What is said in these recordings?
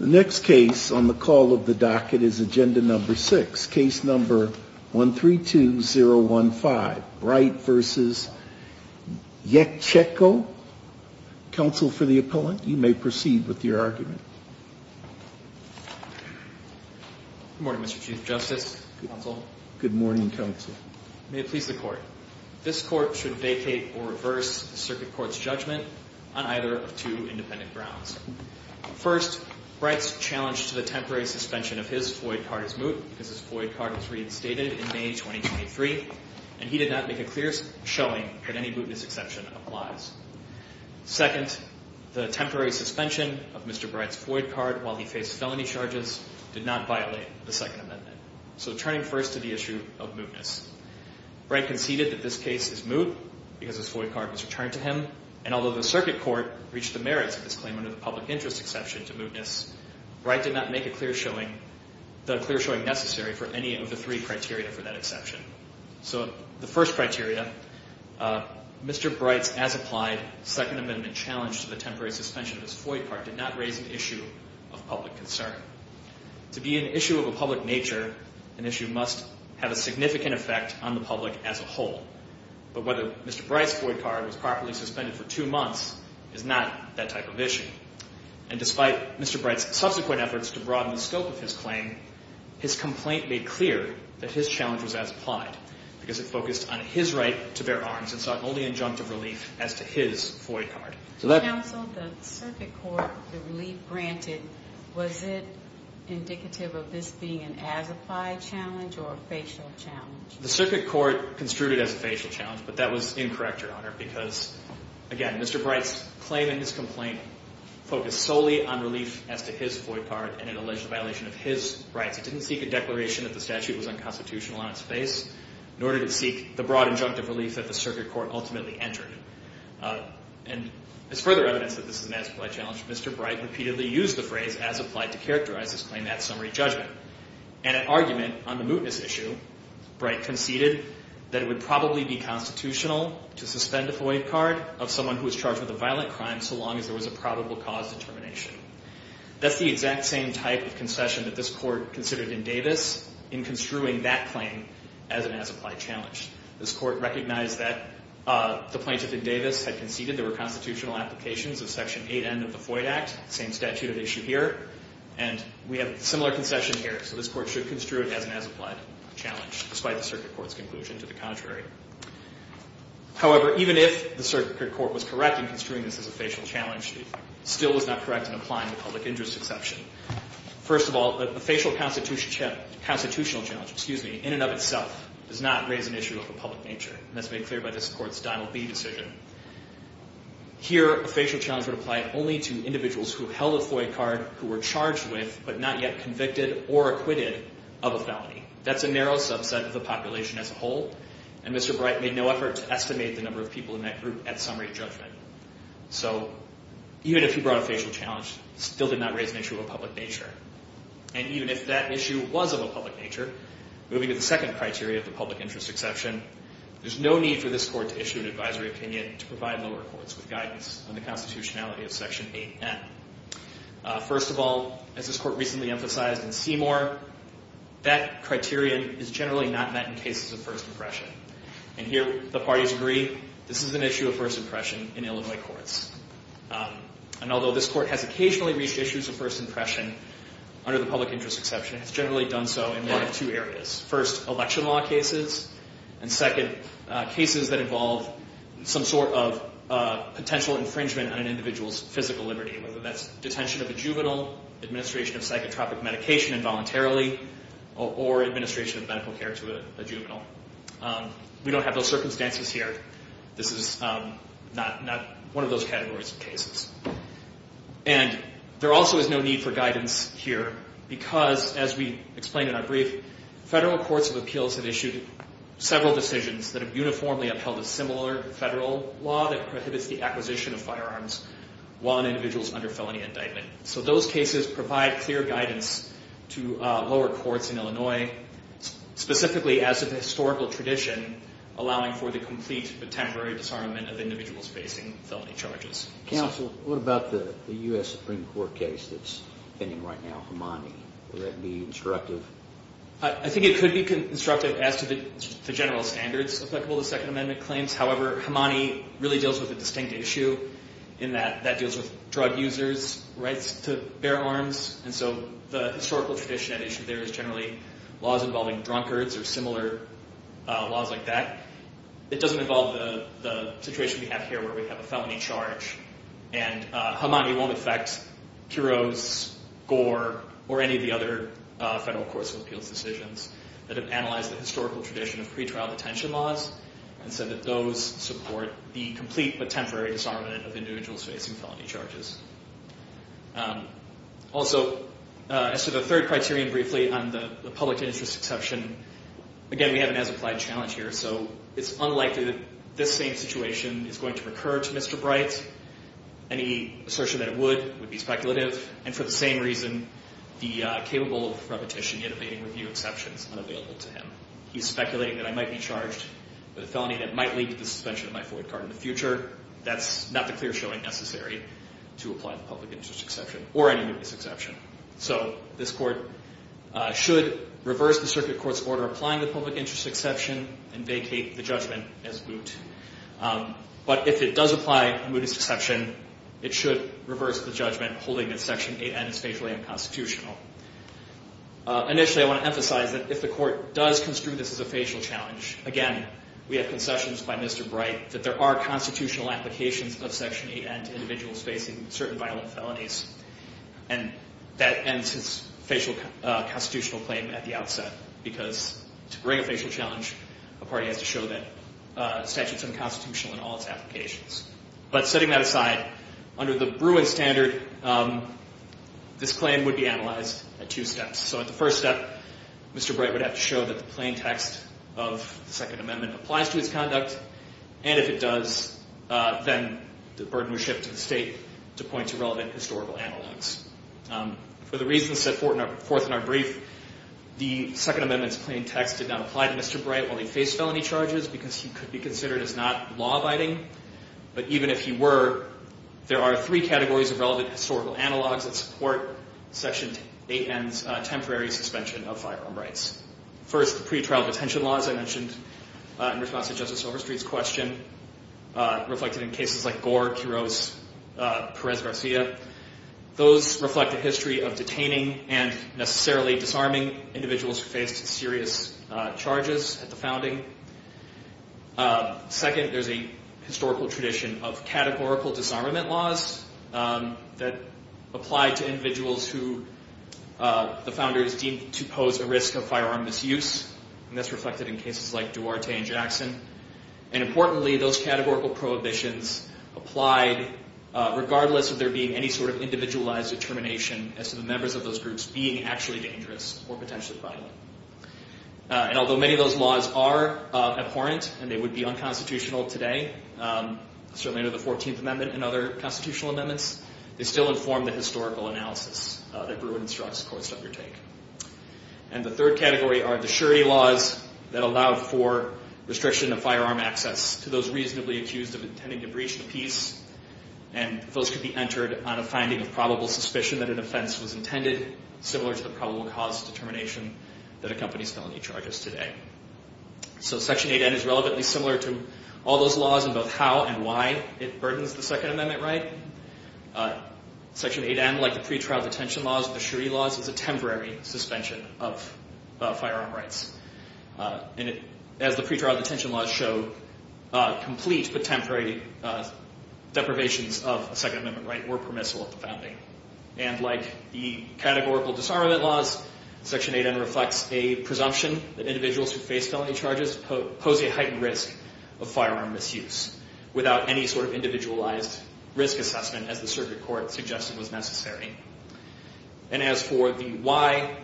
The next case on the call of the docket is agenda number six, case number one, three, two, zero, one, five, right? Versus yet. Checko counsel for the appellant. You may proceed with your argument. Good morning, Mr Chief Justice. Good morning, counsel. May it please the court. This court should vacate or reverse the circuit court's judgment on either of two independent grounds. First, Bright's challenge to the temporary suspension of his FOIA card is moot because his FOIA card was reinstated in May 2023, and he did not make a clear showing that any mootness exception applies. Second, the temporary suspension of Mr Bright's FOIA card while he faced felony charges did not violate the Second Amendment. So turning first to the issue of mootness, Bright conceded that this case is moot because his FOIA card was returned to him. And although the circuit court reached the merits of this claim under the public interest exception to mootness, Bright did not make a clear showing, the clear showing necessary for any of the three criteria for that exception. So the first criteria, Mr Bright's as applied Second Amendment challenge to the temporary suspension of his FOIA card did not raise an issue of public concern. To be an issue of a public nature, an issue must have a significant effect on the public as a whole. But whether Mr Bright's FOIA card was properly suspended for two months is not that type of issue. And despite Mr Bright's subsequent efforts to broaden the scope of his claim, his complaint made clear that his challenge was as applied because it focused on his right to bear arms and sought only injunctive relief as to his FOIA card. So that- Counsel, the circuit court, the relief granted, was it indicative of this being an as applied challenge or a facial challenge? The circuit court construed it as a facial challenge, but that was incorrect, Your Honor, because, again, Mr Bright's claim and his complaint focused solely on relief as to his FOIA card and it alleged a violation of his rights. It didn't seek a declaration that the statute was unconstitutional on its face, nor did it seek the broad injunctive relief that the circuit court ultimately entered. And as further evidence that this is an as applied challenge, Mr Bright repeatedly used the phrase as applied to characterize his claim at summary judgment. In an argument on the mootness issue, Bright conceded that it would probably be constitutional to suspend a FOIA card of someone who was charged with a violent crime so long as there was a probable cause determination. That's the exact same type of concession that this court considered in Davis in construing that claim as an as applied challenge. This court recognized that the plaintiff in Davis had conceded there were constitutional applications of Section 8N of the FOIA Act, same statute of issue here. And we have a similar concession here, so this court should construe it as an as applied challenge, despite the circuit court's conclusion to the contrary. However, even if the circuit court was correct in construing this as a facial challenge, it still was not correct in applying the public interest exception. First of all, the facial constitutional challenge, excuse me, in and of itself, does not raise an issue of a public nature, and that's made clear by this court's Donald B decision. Here, a facial challenge would apply only to individuals who held a FOIA card, who were charged with, but not yet convicted or acquitted of a felony. That's a narrow subset of the population as a whole, and Mr. Bright made no effort to estimate the number of people in that group at summary judgment. So, even if he brought a facial challenge, it still did not raise an issue of a public nature. And even if that issue was of a public nature, moving to the second criteria of the public interest exception, there's no need for this court to issue an advisory opinion to provide lower courts with guidance on the constitutionality of Section 8N. First of all, as this court recently emphasized in Seymour, that criterion is generally not met in cases of first impression. And here, the parties agree, this is an issue of first impression in Illinois courts. And although this court has occasionally reached issues of first impression under the public interest exception, it's generally done so in one of two areas. First, election law cases, and second, cases that involve some sort of potential infringement on an individual's physical liberty. Whether that's detention of a juvenile, administration of psychotropic medication involuntarily, or administration of medical care to a juvenile. We don't have those circumstances here. This is not one of those categories of cases. And there also is no need for guidance here because, as we explained in our brief, federal courts of appeals have issued several decisions that have uniformly upheld a similar federal law that prohibits the acquisition of firearms while an individual is under felony indictment. So those cases provide clear guidance to lower courts in Illinois, specifically as of historical tradition, allowing for the complete but temporary disarmament of individuals facing felony charges. Counsel, what about the US Supreme Court case that's pending right now, Hamani? Would that be constructive? I think it could be constructive as to the general standards applicable to Second Amendment claims. However, Hamani really deals with a distinct issue in that that deals with drug users. Rights to bear arms. And so the historical tradition at issue there is generally laws involving drunkards or similar laws like that. It doesn't involve the situation we have here where we have a felony charge. And Hamani won't affect Kuros, Gore, or any of the other federal courts of appeals decisions that have analyzed the historical tradition of pretrial detention laws and said that those support the complete but temporary disarmament of individuals facing felony charges. Also, as to the third criterion, briefly, on the public interest exception, again, we have an as-applied challenge here. So it's unlikely that this same situation is going to recur to Mr. Bright. Any assertion that it would would be speculative. And for the same reason, the capable of repetition yet evading review exception is unavailable to him. He's speculating that I might be charged with a felony that might lead to the suspension of my FOIA card in the future. That's not the clear showing necessary to apply the public interest exception or any mootness exception. So this court should reverse the circuit court's order applying the public interest exception and vacate the judgment as moot. But if it does apply a mootness exception, it should reverse the judgment holding that Section 8N is faithfully unconstitutional. Initially, I want to emphasize that if the court does construe this as a facial challenge, again, we have concessions by Mr. Bright that there are constitutional applications of Section 8N to individuals facing certain violent felonies. And that ends his facial constitutional claim at the outset. Because to bring a facial challenge, a party has to show that statute's unconstitutional in all its applications. But setting that aside, under the Bruin standard, this claim would be analyzed at two steps. So at the first step, Mr. Bright would have to show that the plain text of the Second Amendment applies to his conduct. And if it does, then the burden was shipped to the state to point to relevant historical analogs. For the reasons set forth in our brief, the Second Amendment's plain text did not apply to Mr. Bright's charges because he could be considered as not law-abiding. But even if he were, there are three categories of relevant historical analogs that support Section 8N's temporary suspension of firearm rights. First, the pretrial detention laws I mentioned in response to Justice Silverstreet's question, reflected in cases like Gore, Quiroz, Perez-Garcia. Those reflect a history of detaining and necessarily disarming individuals who faced serious charges at the founding. Second, there's a historical tradition of categorical disarmament laws that apply to individuals who the founders deemed to pose a risk of firearm misuse. And that's reflected in cases like Duarte and Jackson. And importantly, those categorical prohibitions applied regardless of there being any sort of individualized determination as to the members of those groups being actually dangerous or potentially violent. And although many of those laws are abhorrent and they would be unconstitutional today, certainly under the 14th Amendment and other constitutional amendments, they still inform the historical analysis that Bruin instructs courts to undertake. And the third category are the surety laws that allow for restriction of firearm access to those reasonably accused of intending to breach the peace. And those could be entered on a finding of probable suspicion that an offense was intended, similar to the probable cause determination that accompanies felony charges today. So Section 8N is relevantly similar to all those laws in both how and why it burdens the Second Amendment right. Section 8N, like the pretrial detention laws and the surety laws, is a temporary suspension of firearm rights. And as the pretrial detention laws show, complete but temporary deprivations of a Second Amendment right were permissible at the founding. And like the categorical disarmament laws, Section 8N reflects a presumption that individuals who face felony charges pose a heightened risk of firearm misuse without any sort of individualized risk assessment, as the circuit court suggested was necessary. And as for the why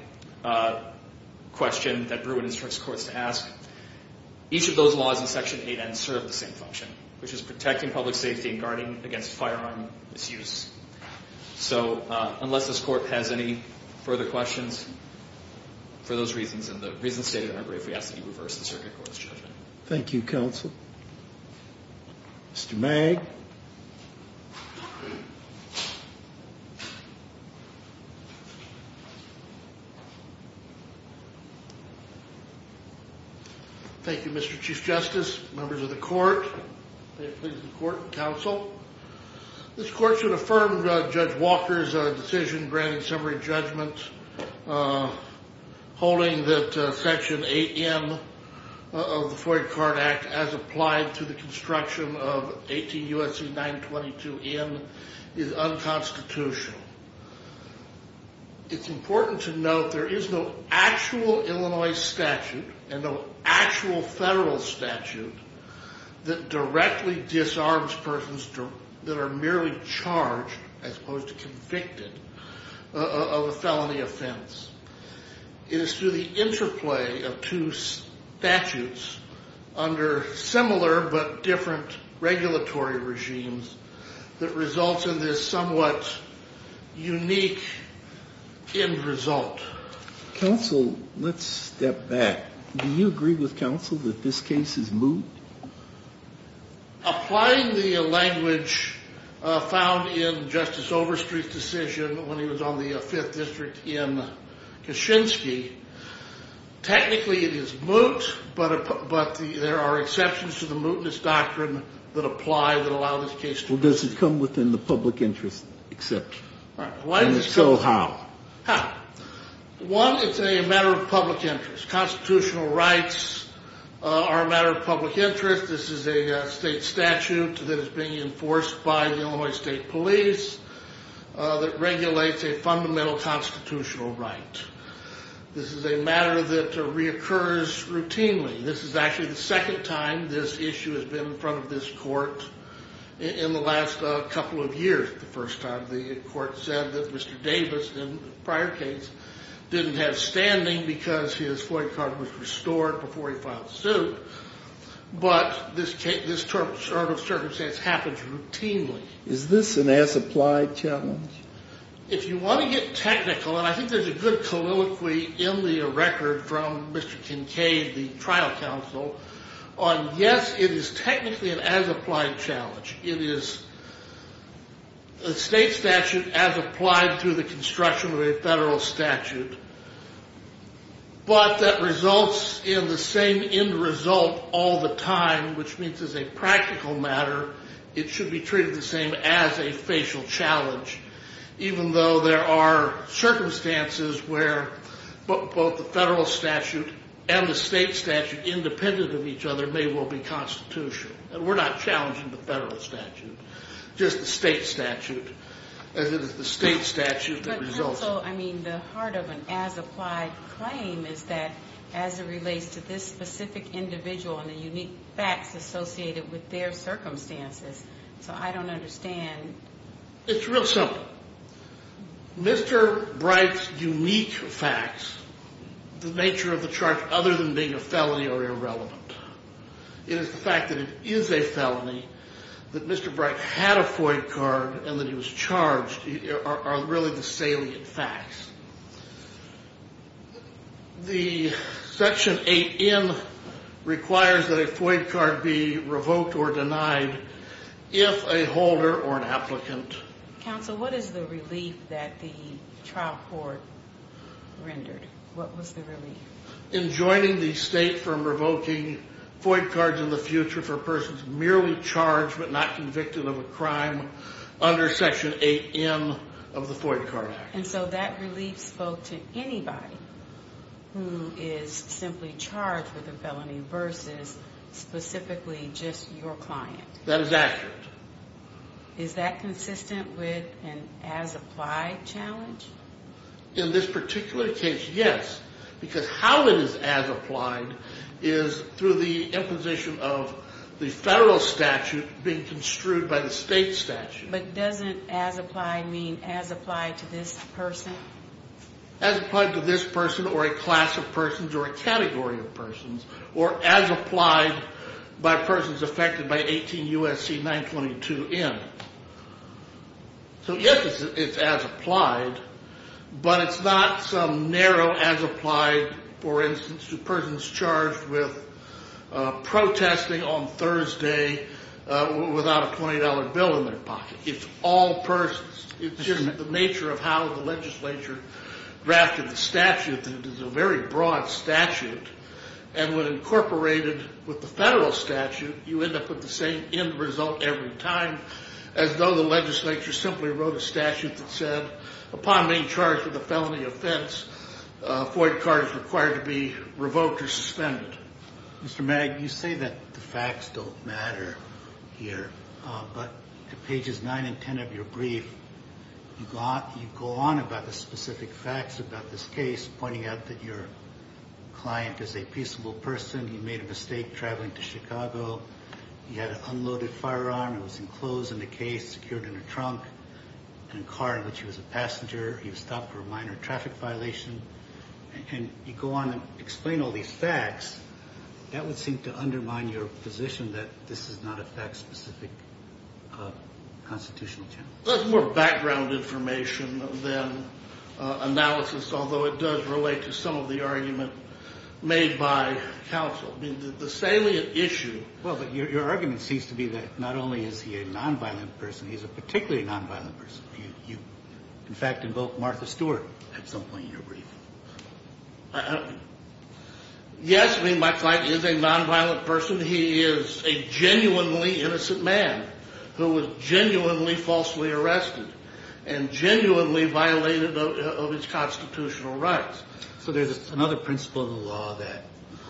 question that Bruin instructs courts to ask, each of those laws in Section 8N serve the same function, which is protecting public safety and guarding against firearm misuse. So unless this court has any further questions, for those reasons and the reasons stated, I'm afraid we have to reverse the circuit court's judgment. Thank you, counsel. Mr. Magg. Thank you, Mr. Chief Justice, members of the court, and the court and counsel. This court should affirm Judge Walker's decision granting summary judgment holding that Section 8N of the FOIA Card Act as applied to the construction of 18 U.S.C. 922 N is unconstitutional. It's important to note there is no actual Illinois statute and no actual federal statute that directly disarms persons that are merely charged as opposed to convicted of a felony offense. It is through the interplay of two statutes under similar but different regulatory regimes that results in this somewhat unique end result. Counsel, let's step back. Do you agree with counsel that this case is moot? Applying the language found in Justice Overstreet's decision when he was on the Fifth District in Kaczynski, technically it is moot, but there are exceptions to the mootness doctrine that apply that allow this case to be moot. Well, does it come within the public interest exception? So how? One, it's a matter of public interest. Constitutional rights are a matter of public interest. This is a state statute that is being enforced by the Illinois State Police that regulates a fundamental constitutional right. This is a matter that reoccurs routinely. This is actually the second time this issue has been in this court in the last couple of years, the first time the court said that Mr. Davis, in the prior case, didn't have standing because his FOIA card was restored before he filed suit. But this circumstance happens routinely. Is this an as-applied challenge? If you want to get technical, and I think there's a good colloquy in the record from Mr. Kincaid, the trial counsel, on yes, it is technically an as-applied challenge. It is a state statute as applied through the construction of a federal statute, but that results in the same end result all the time, which means as a practical matter, it should be treated the same as a facial challenge, even though there are circumstances where both the federal statute and the state statute, independent of each other, may well be constitutional. And we're not challenging the federal statute, just the state statute, as it is the state statute that results in. But counsel, I mean, the heart of an as-applied claim is that as it relates to this specific individual and the unique facts associated with their circumstances. So I don't understand. It's real simple. Mr. Bright's unique facts, the nature of the charge other than being a felony, are irrelevant. It is the fact that it is a felony, that Mr. Bright had a FOIA card, and that he was charged, are really the salient facts. The section 8N requires that a FOIA card be revoked or denied if a holder or an applicant... Counsel, what is the relief that the trial court rendered? What was the relief? In joining the state from revoking FOIA cards in the future for persons merely charged but not convicted of a crime under section 8N of the FOIA card act. And so that relief spoke to anybody who is simply charged with a felony versus specifically just your client. That is accurate. Is that consistent with an as-applied challenge? In this particular case, yes. Because how it is as-applied is through the imposition of the federal statute being construed by the state statute. But doesn't as-applied mean as-applied to this person? As-applied to this person or a class of persons or a category of persons, or as-applied by persons affected by 18 U.S.C. 922N? So yes, it's as-applied, but it's not some narrow as-applied, for instance, to persons charged with protesting on Thursday without a $20 bill in their pocket. It's all persons. It's just the nature of how the legislature drafted the statute, and it is a very broad statute. And when incorporated with the federal statute, you end up with the same end result every time, as though the legislature simply wrote a statute that said, upon being charged with a felony offense, a FOIA card is required to be revoked or suspended. Mr. Magg, you say that the facts don't matter here, but to pages 9 and 10 of your brief, you go on about the specific facts about this case, pointing out that your client is a peaceable person. He made a mistake traveling to Chicago. He had an unloaded firearm. It was enclosed in a case, secured in a trunk, in a car in which he was a passenger. He was stopped for a minor traffic violation. And you go on and explain all these facts. That would seem to undermine your position that this is not a fact-specific constitutional challenge. That's more background information than analysis, although it does relate to some of the argument made by counsel. I mean, the salient issue... Well, but your argument seems to be that not only is he a nonviolent person, he's a particularly nonviolent person. You, in fact, invoked Martha Stewart at some point in your brief. Yes, I mean, my client is a nonviolent person. He is a genuinely innocent man who was genuinely falsely arrested and genuinely violated of his constitutional rights. So there's another principle in the law that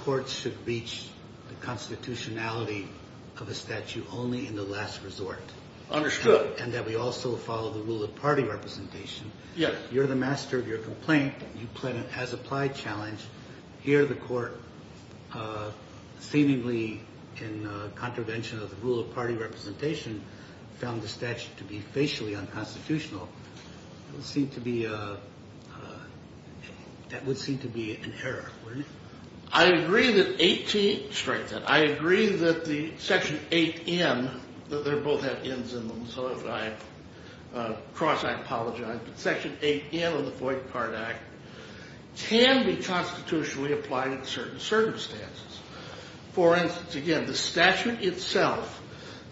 courts should reach the constitutionality of a statute only in the last resort. Understood. And that we also follow the rule of party representation. Yes. You're the challenge. Here, the court, seemingly in contravention of the rule of party representation, found the statute to be facially unconstitutional. That would seem to be an error, wouldn't it? I agree that Section 8N, they both have N's in them, so if I cross, I apologize. But Section 8N of the Void Card Act can be constitutionally applied in certain circumstances. For instance, again, the statute itself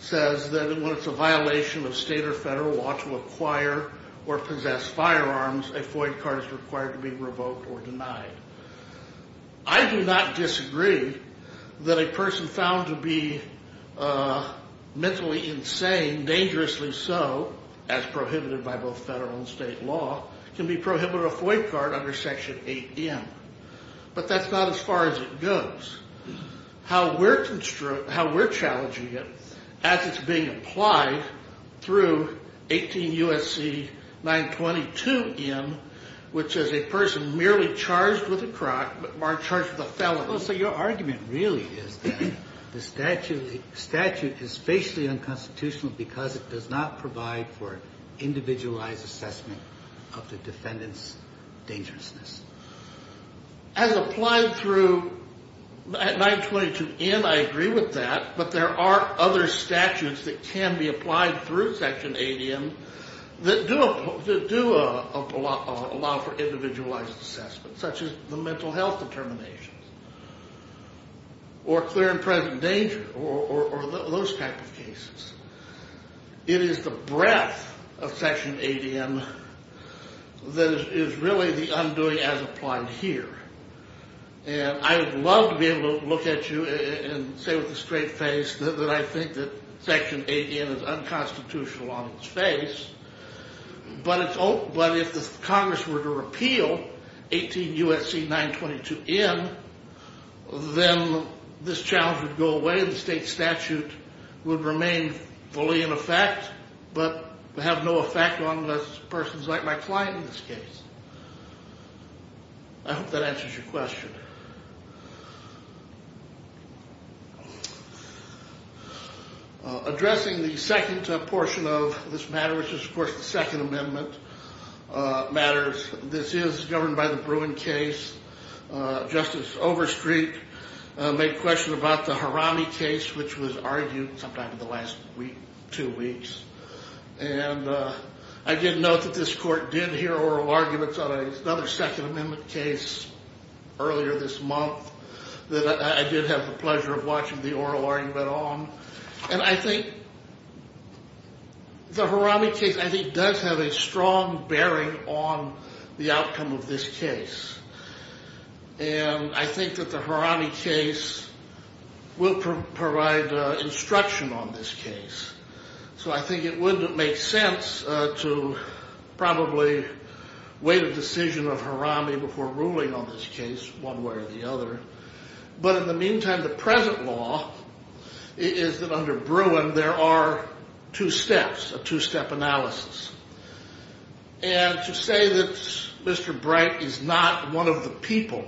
says that when it's a violation of state or federal law to acquire or possess firearms, a void card is required to be revoked or denied. I do not disagree that a person found to be mentally insane, dangerously so, as prohibited by both federal and state law, can be prohibited a void card under Section 8N. But that's not as far as it goes. How we're challenging it as it's being applied through 18 U.S.C. 922N, which is a person merely charged with a crime or charged with a felony. So your argument really is that the of the defendant's dangerousness. As applied through 922N, I agree with that, but there are other statutes that can be applied through Section 8N that do allow for individualized assessment, such as the mental health determinations, or clear and present danger, or those type of cases. It is the breadth of Section 8N that is really the undoing as applied here. And I would love to be able to look at you and say with a straight face that I think that Section 8N is unconstitutional on its face, but if the Congress were to repeal 18 U.S.C. 922N, then this challenge would go away, the state statute would remain fully in effect, but have no effect on persons like my client in this case. I hope that answers your question. Addressing the second portion of this matter, which is of course the Second Amendment matters, this is governed by the Bruin case. Justice Overstreet made a question about the Harami case, which was argued sometime in the last two weeks, and I did note that this Court did hear oral arguments on another Second Amendment case earlier this month that I did have the pleasure of watching the oral argument on. And I think the Harami case, I think, does have a strong bearing on the outcome of this case, and I think that the Harami case will provide instruction on this case. So I think it would make sense to probably wait a decision of Harami before ruling on this case one way or the other. But in the meantime, the present law is that under Bruin there are two steps, a two-step analysis. And to say that Mr. Bright is not one of the people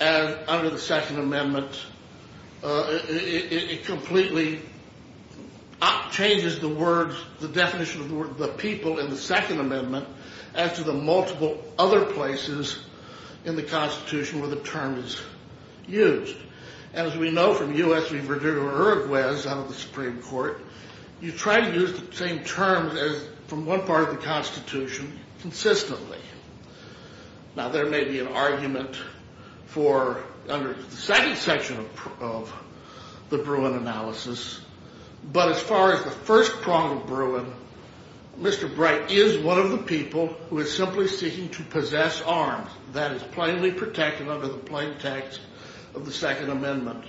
under the Second Amendment, it completely changes the definition of the word the people in the Second Amendment as to the multiple other places in the Constitution where the term is used. As we know from U.S. Supreme Court, you try to use the same terms as from one part of the Constitution consistently. Now there may be an argument for under the second section of the Bruin analysis, but as far as the first prong of Bruin, Mr. Bright is one of the people who is simply seeking to that is plainly protected under the plain text of the Second Amendment.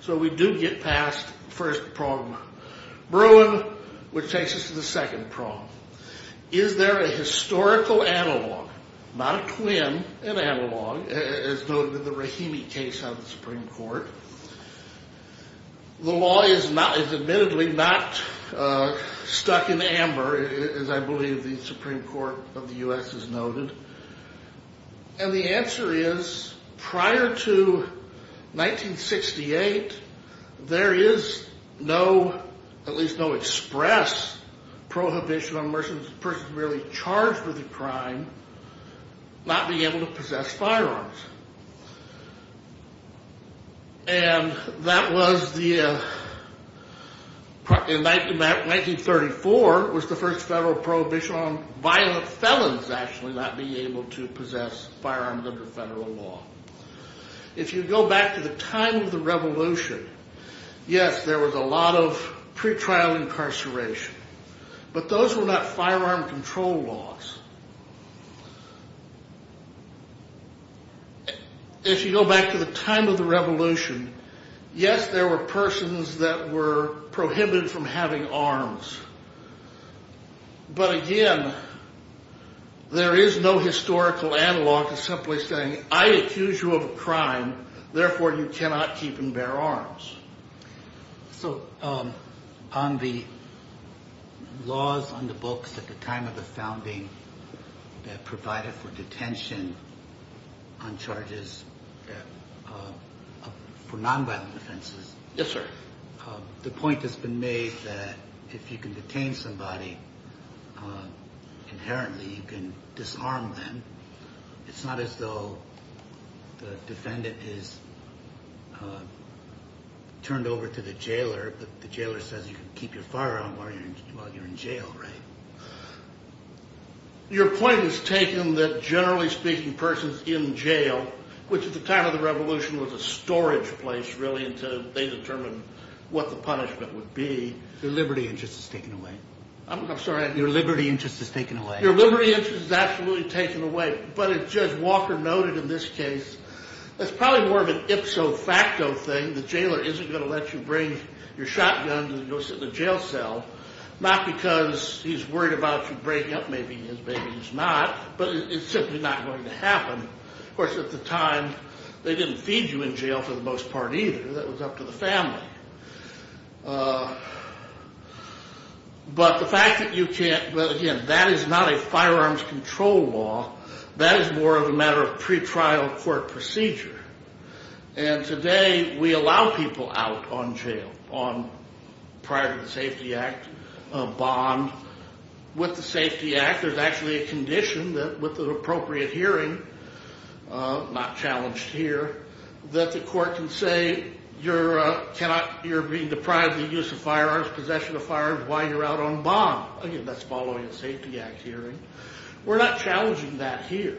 So we do get past first prong. Bruin, which takes us to the second prong. Is there a historical analog, not a twin, an analog, as noted in the Rahimi case of the Supreme Court? The law is admittedly not stuck in amber, as I believe the Supreme Court of the U.S. has noted. And the answer is, prior to 1968, there is no, at least no express prohibition on persons merely charged with a crime not being able to possess firearms. And that was the, in 1934, was the first federal prohibition on violent felons actually not being able to possess firearms under federal law. If you go back to the time of the Revolution, yes, there was a lot of pretrial incarceration, but those were not firearm control laws. If you go back to the time of the Revolution, yes, there were persons that were prohibited from having arms. But again, there is no historical analog to simply saying, I accuse you of a crime, therefore you cannot keep and bear arms. So on the laws on the books at the time of the founding that provided for detention on charges for non-violent offenses, the point has been made that if you can detain somebody inherently, you can disarm them. It's not as though the defendant is turned over to the jailer, but the jailer says you can keep your firearm while you're in jail, right? So your point is taken that generally speaking, persons in jail, which at the time of the Revolution was a storage place really until they determined what the punishment would be. Their liberty interest is taken away. I'm sorry? Your liberty interest is taken away. Your liberty interest is absolutely taken away, but as Judge Walker noted in this case, that's probably more of an ipso facto thing. The jailer isn't going to let you bring your shotgun to go sit in a jail cell, not because he's worried about you breaking up, maybe his baby is not, but it's simply not going to happen. Of course at the time, they didn't feed you in jail for the most part either. That was up to the family. But the fact that you can't, well again, that is not a firearms control law. That is more of a matter of pretrial court procedure. And today we allow people out on jail. On prior to the Safety Act, a bond with the Safety Act. There's actually a condition that with an appropriate hearing, not challenged here, that the court can say you're being deprived of the use of firearms, possession of firearms while you're out on bond. Again, that's following a Safety Act hearing. We're not challenging that here.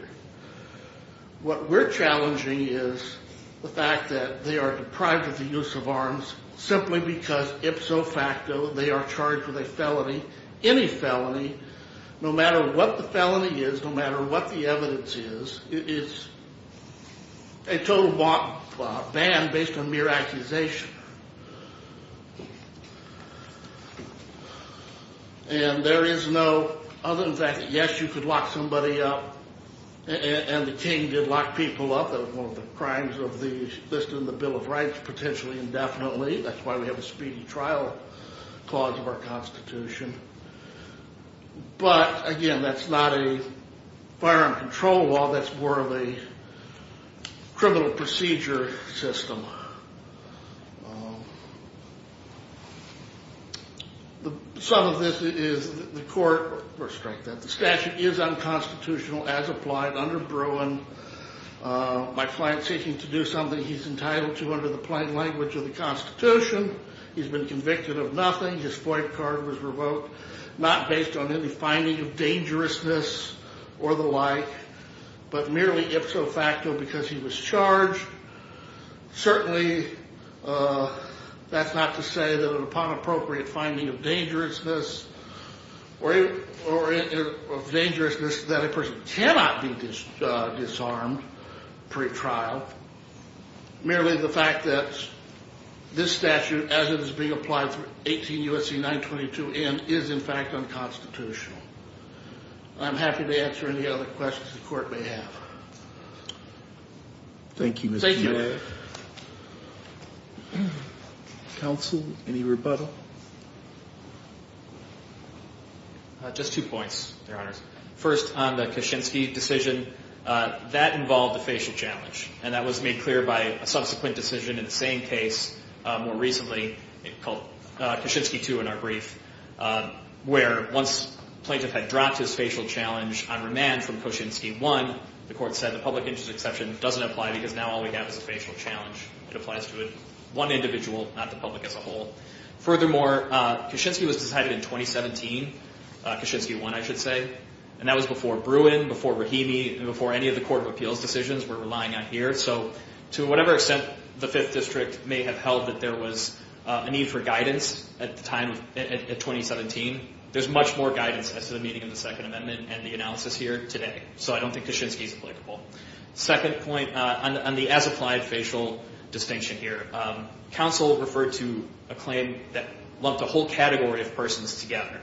What we're challenging is the fact that they are deprived of the use of arms simply because ipso facto, they are charged with a felony, any felony, no matter what the felony is, no matter what the evidence is, it's a total ban based on mere accusation. And there is no, other than the fact that yes, you could lock somebody up and the king did lock people up. That was one of the crimes of the, listed in the Bill of Rights, potentially indefinitely. That's why we have a speedy trial clause of our Constitution. But again, that's not a firearm control law. That's more of a criminal procedure system. Some of this is the court, or strength, the statute is unconstitutional as applied under Bruin. My client's seeking to do something he's entitled to under the plain language of the Constitution. He's been convicted of nothing. His FOIA card was revoked, not based on any finding of dangerousness or the like, but merely ipso facto because he was charged. Certainly that's not to say that upon appropriate finding of dangerousness or of dangerousness that a person cannot be disarmed pre-trial. Merely the fact that this statute, as it is being applied for 18 U.S.C. 922N, is in fact unconstitutional. I'm happy to answer any other questions the court may have. Thank you. Thank you. Counsel, any rebuttal? Just two points, Your Honors. First, on the Kaczynski decision, that involved a facial challenge, and that was made clear by a subsequent decision in the same case more recently called Kaczynski 2 in our brief, where once plaintiff had dropped his facial challenge on remand from Kaczynski 1, the court said the public interest exception doesn't apply because now all we have is a facial challenge. It applies to one individual, not the public as a whole. Furthermore, Kaczynski was decided in 2017, Kaczynski 1, I should say, and that was before Bruin, before Rahimi, and before any of the Court of Appeals decisions we're relying on here. So to whatever extent the Fifth District may have held that there was a need for guidance at the time, at 2017, there's much more guidance as to the meaning of the Second Amendment and the analysis here today. So I don't think Kaczynski is applicable. Second point, on the as-applied facial distinction here, counsel referred to a claim that lumped a whole category of persons together.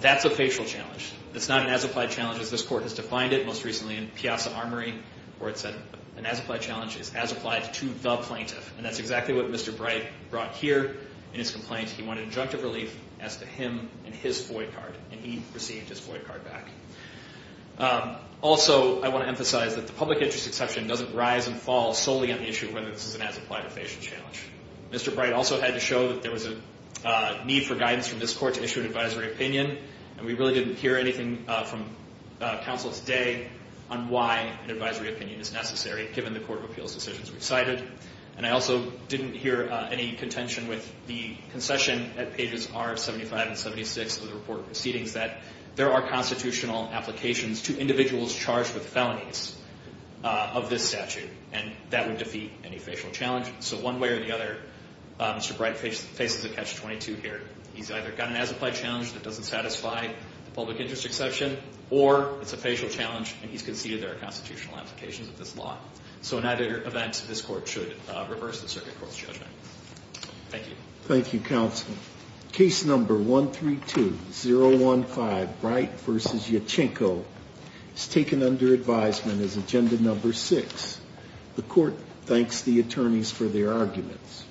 That's a facial challenge. It's not an as-applied challenge as this Court has defined it most recently in Piazza Armory, where it said an as-applied challenge is as-applied to the plaintiff. And that's exactly what Mr. Bright brought here in his complaint. He wanted injunctive relief as to him and his FOIA card, and he received his FOIA card back. Also, I want to emphasize that the public interest exception doesn't rise and fall solely on the issue of whether this is an as-applied or facial challenge. Mr. Bright also had to show that there was a need for guidance from this Court to issue an advisory opinion, and we really didn't hear anything from counsel today on why an advisory opinion is necessary, given the Court of Appeals decisions we've cited. And I also didn't hear any contention with the concession at pages R of 75 and 76 of the Report of Proceedings that there are constitutional applications to individuals charged with felonies of this statute, and that would defeat any facial challenge. So one way or the other, Mr. Bright faces a catch-22 here. He's either got an as-applied challenge that doesn't satisfy the public interest exception, or it's a facial challenge, and he's conceded there are constitutional applications of this law. So in either event, this Court should reverse the Circuit Court's judgment. Thank you. Thank you, counsel. Case number 132015, Bright v. Yachinko, is taken under advisement as agenda number six. The Court thanks the attorneys for their arguments.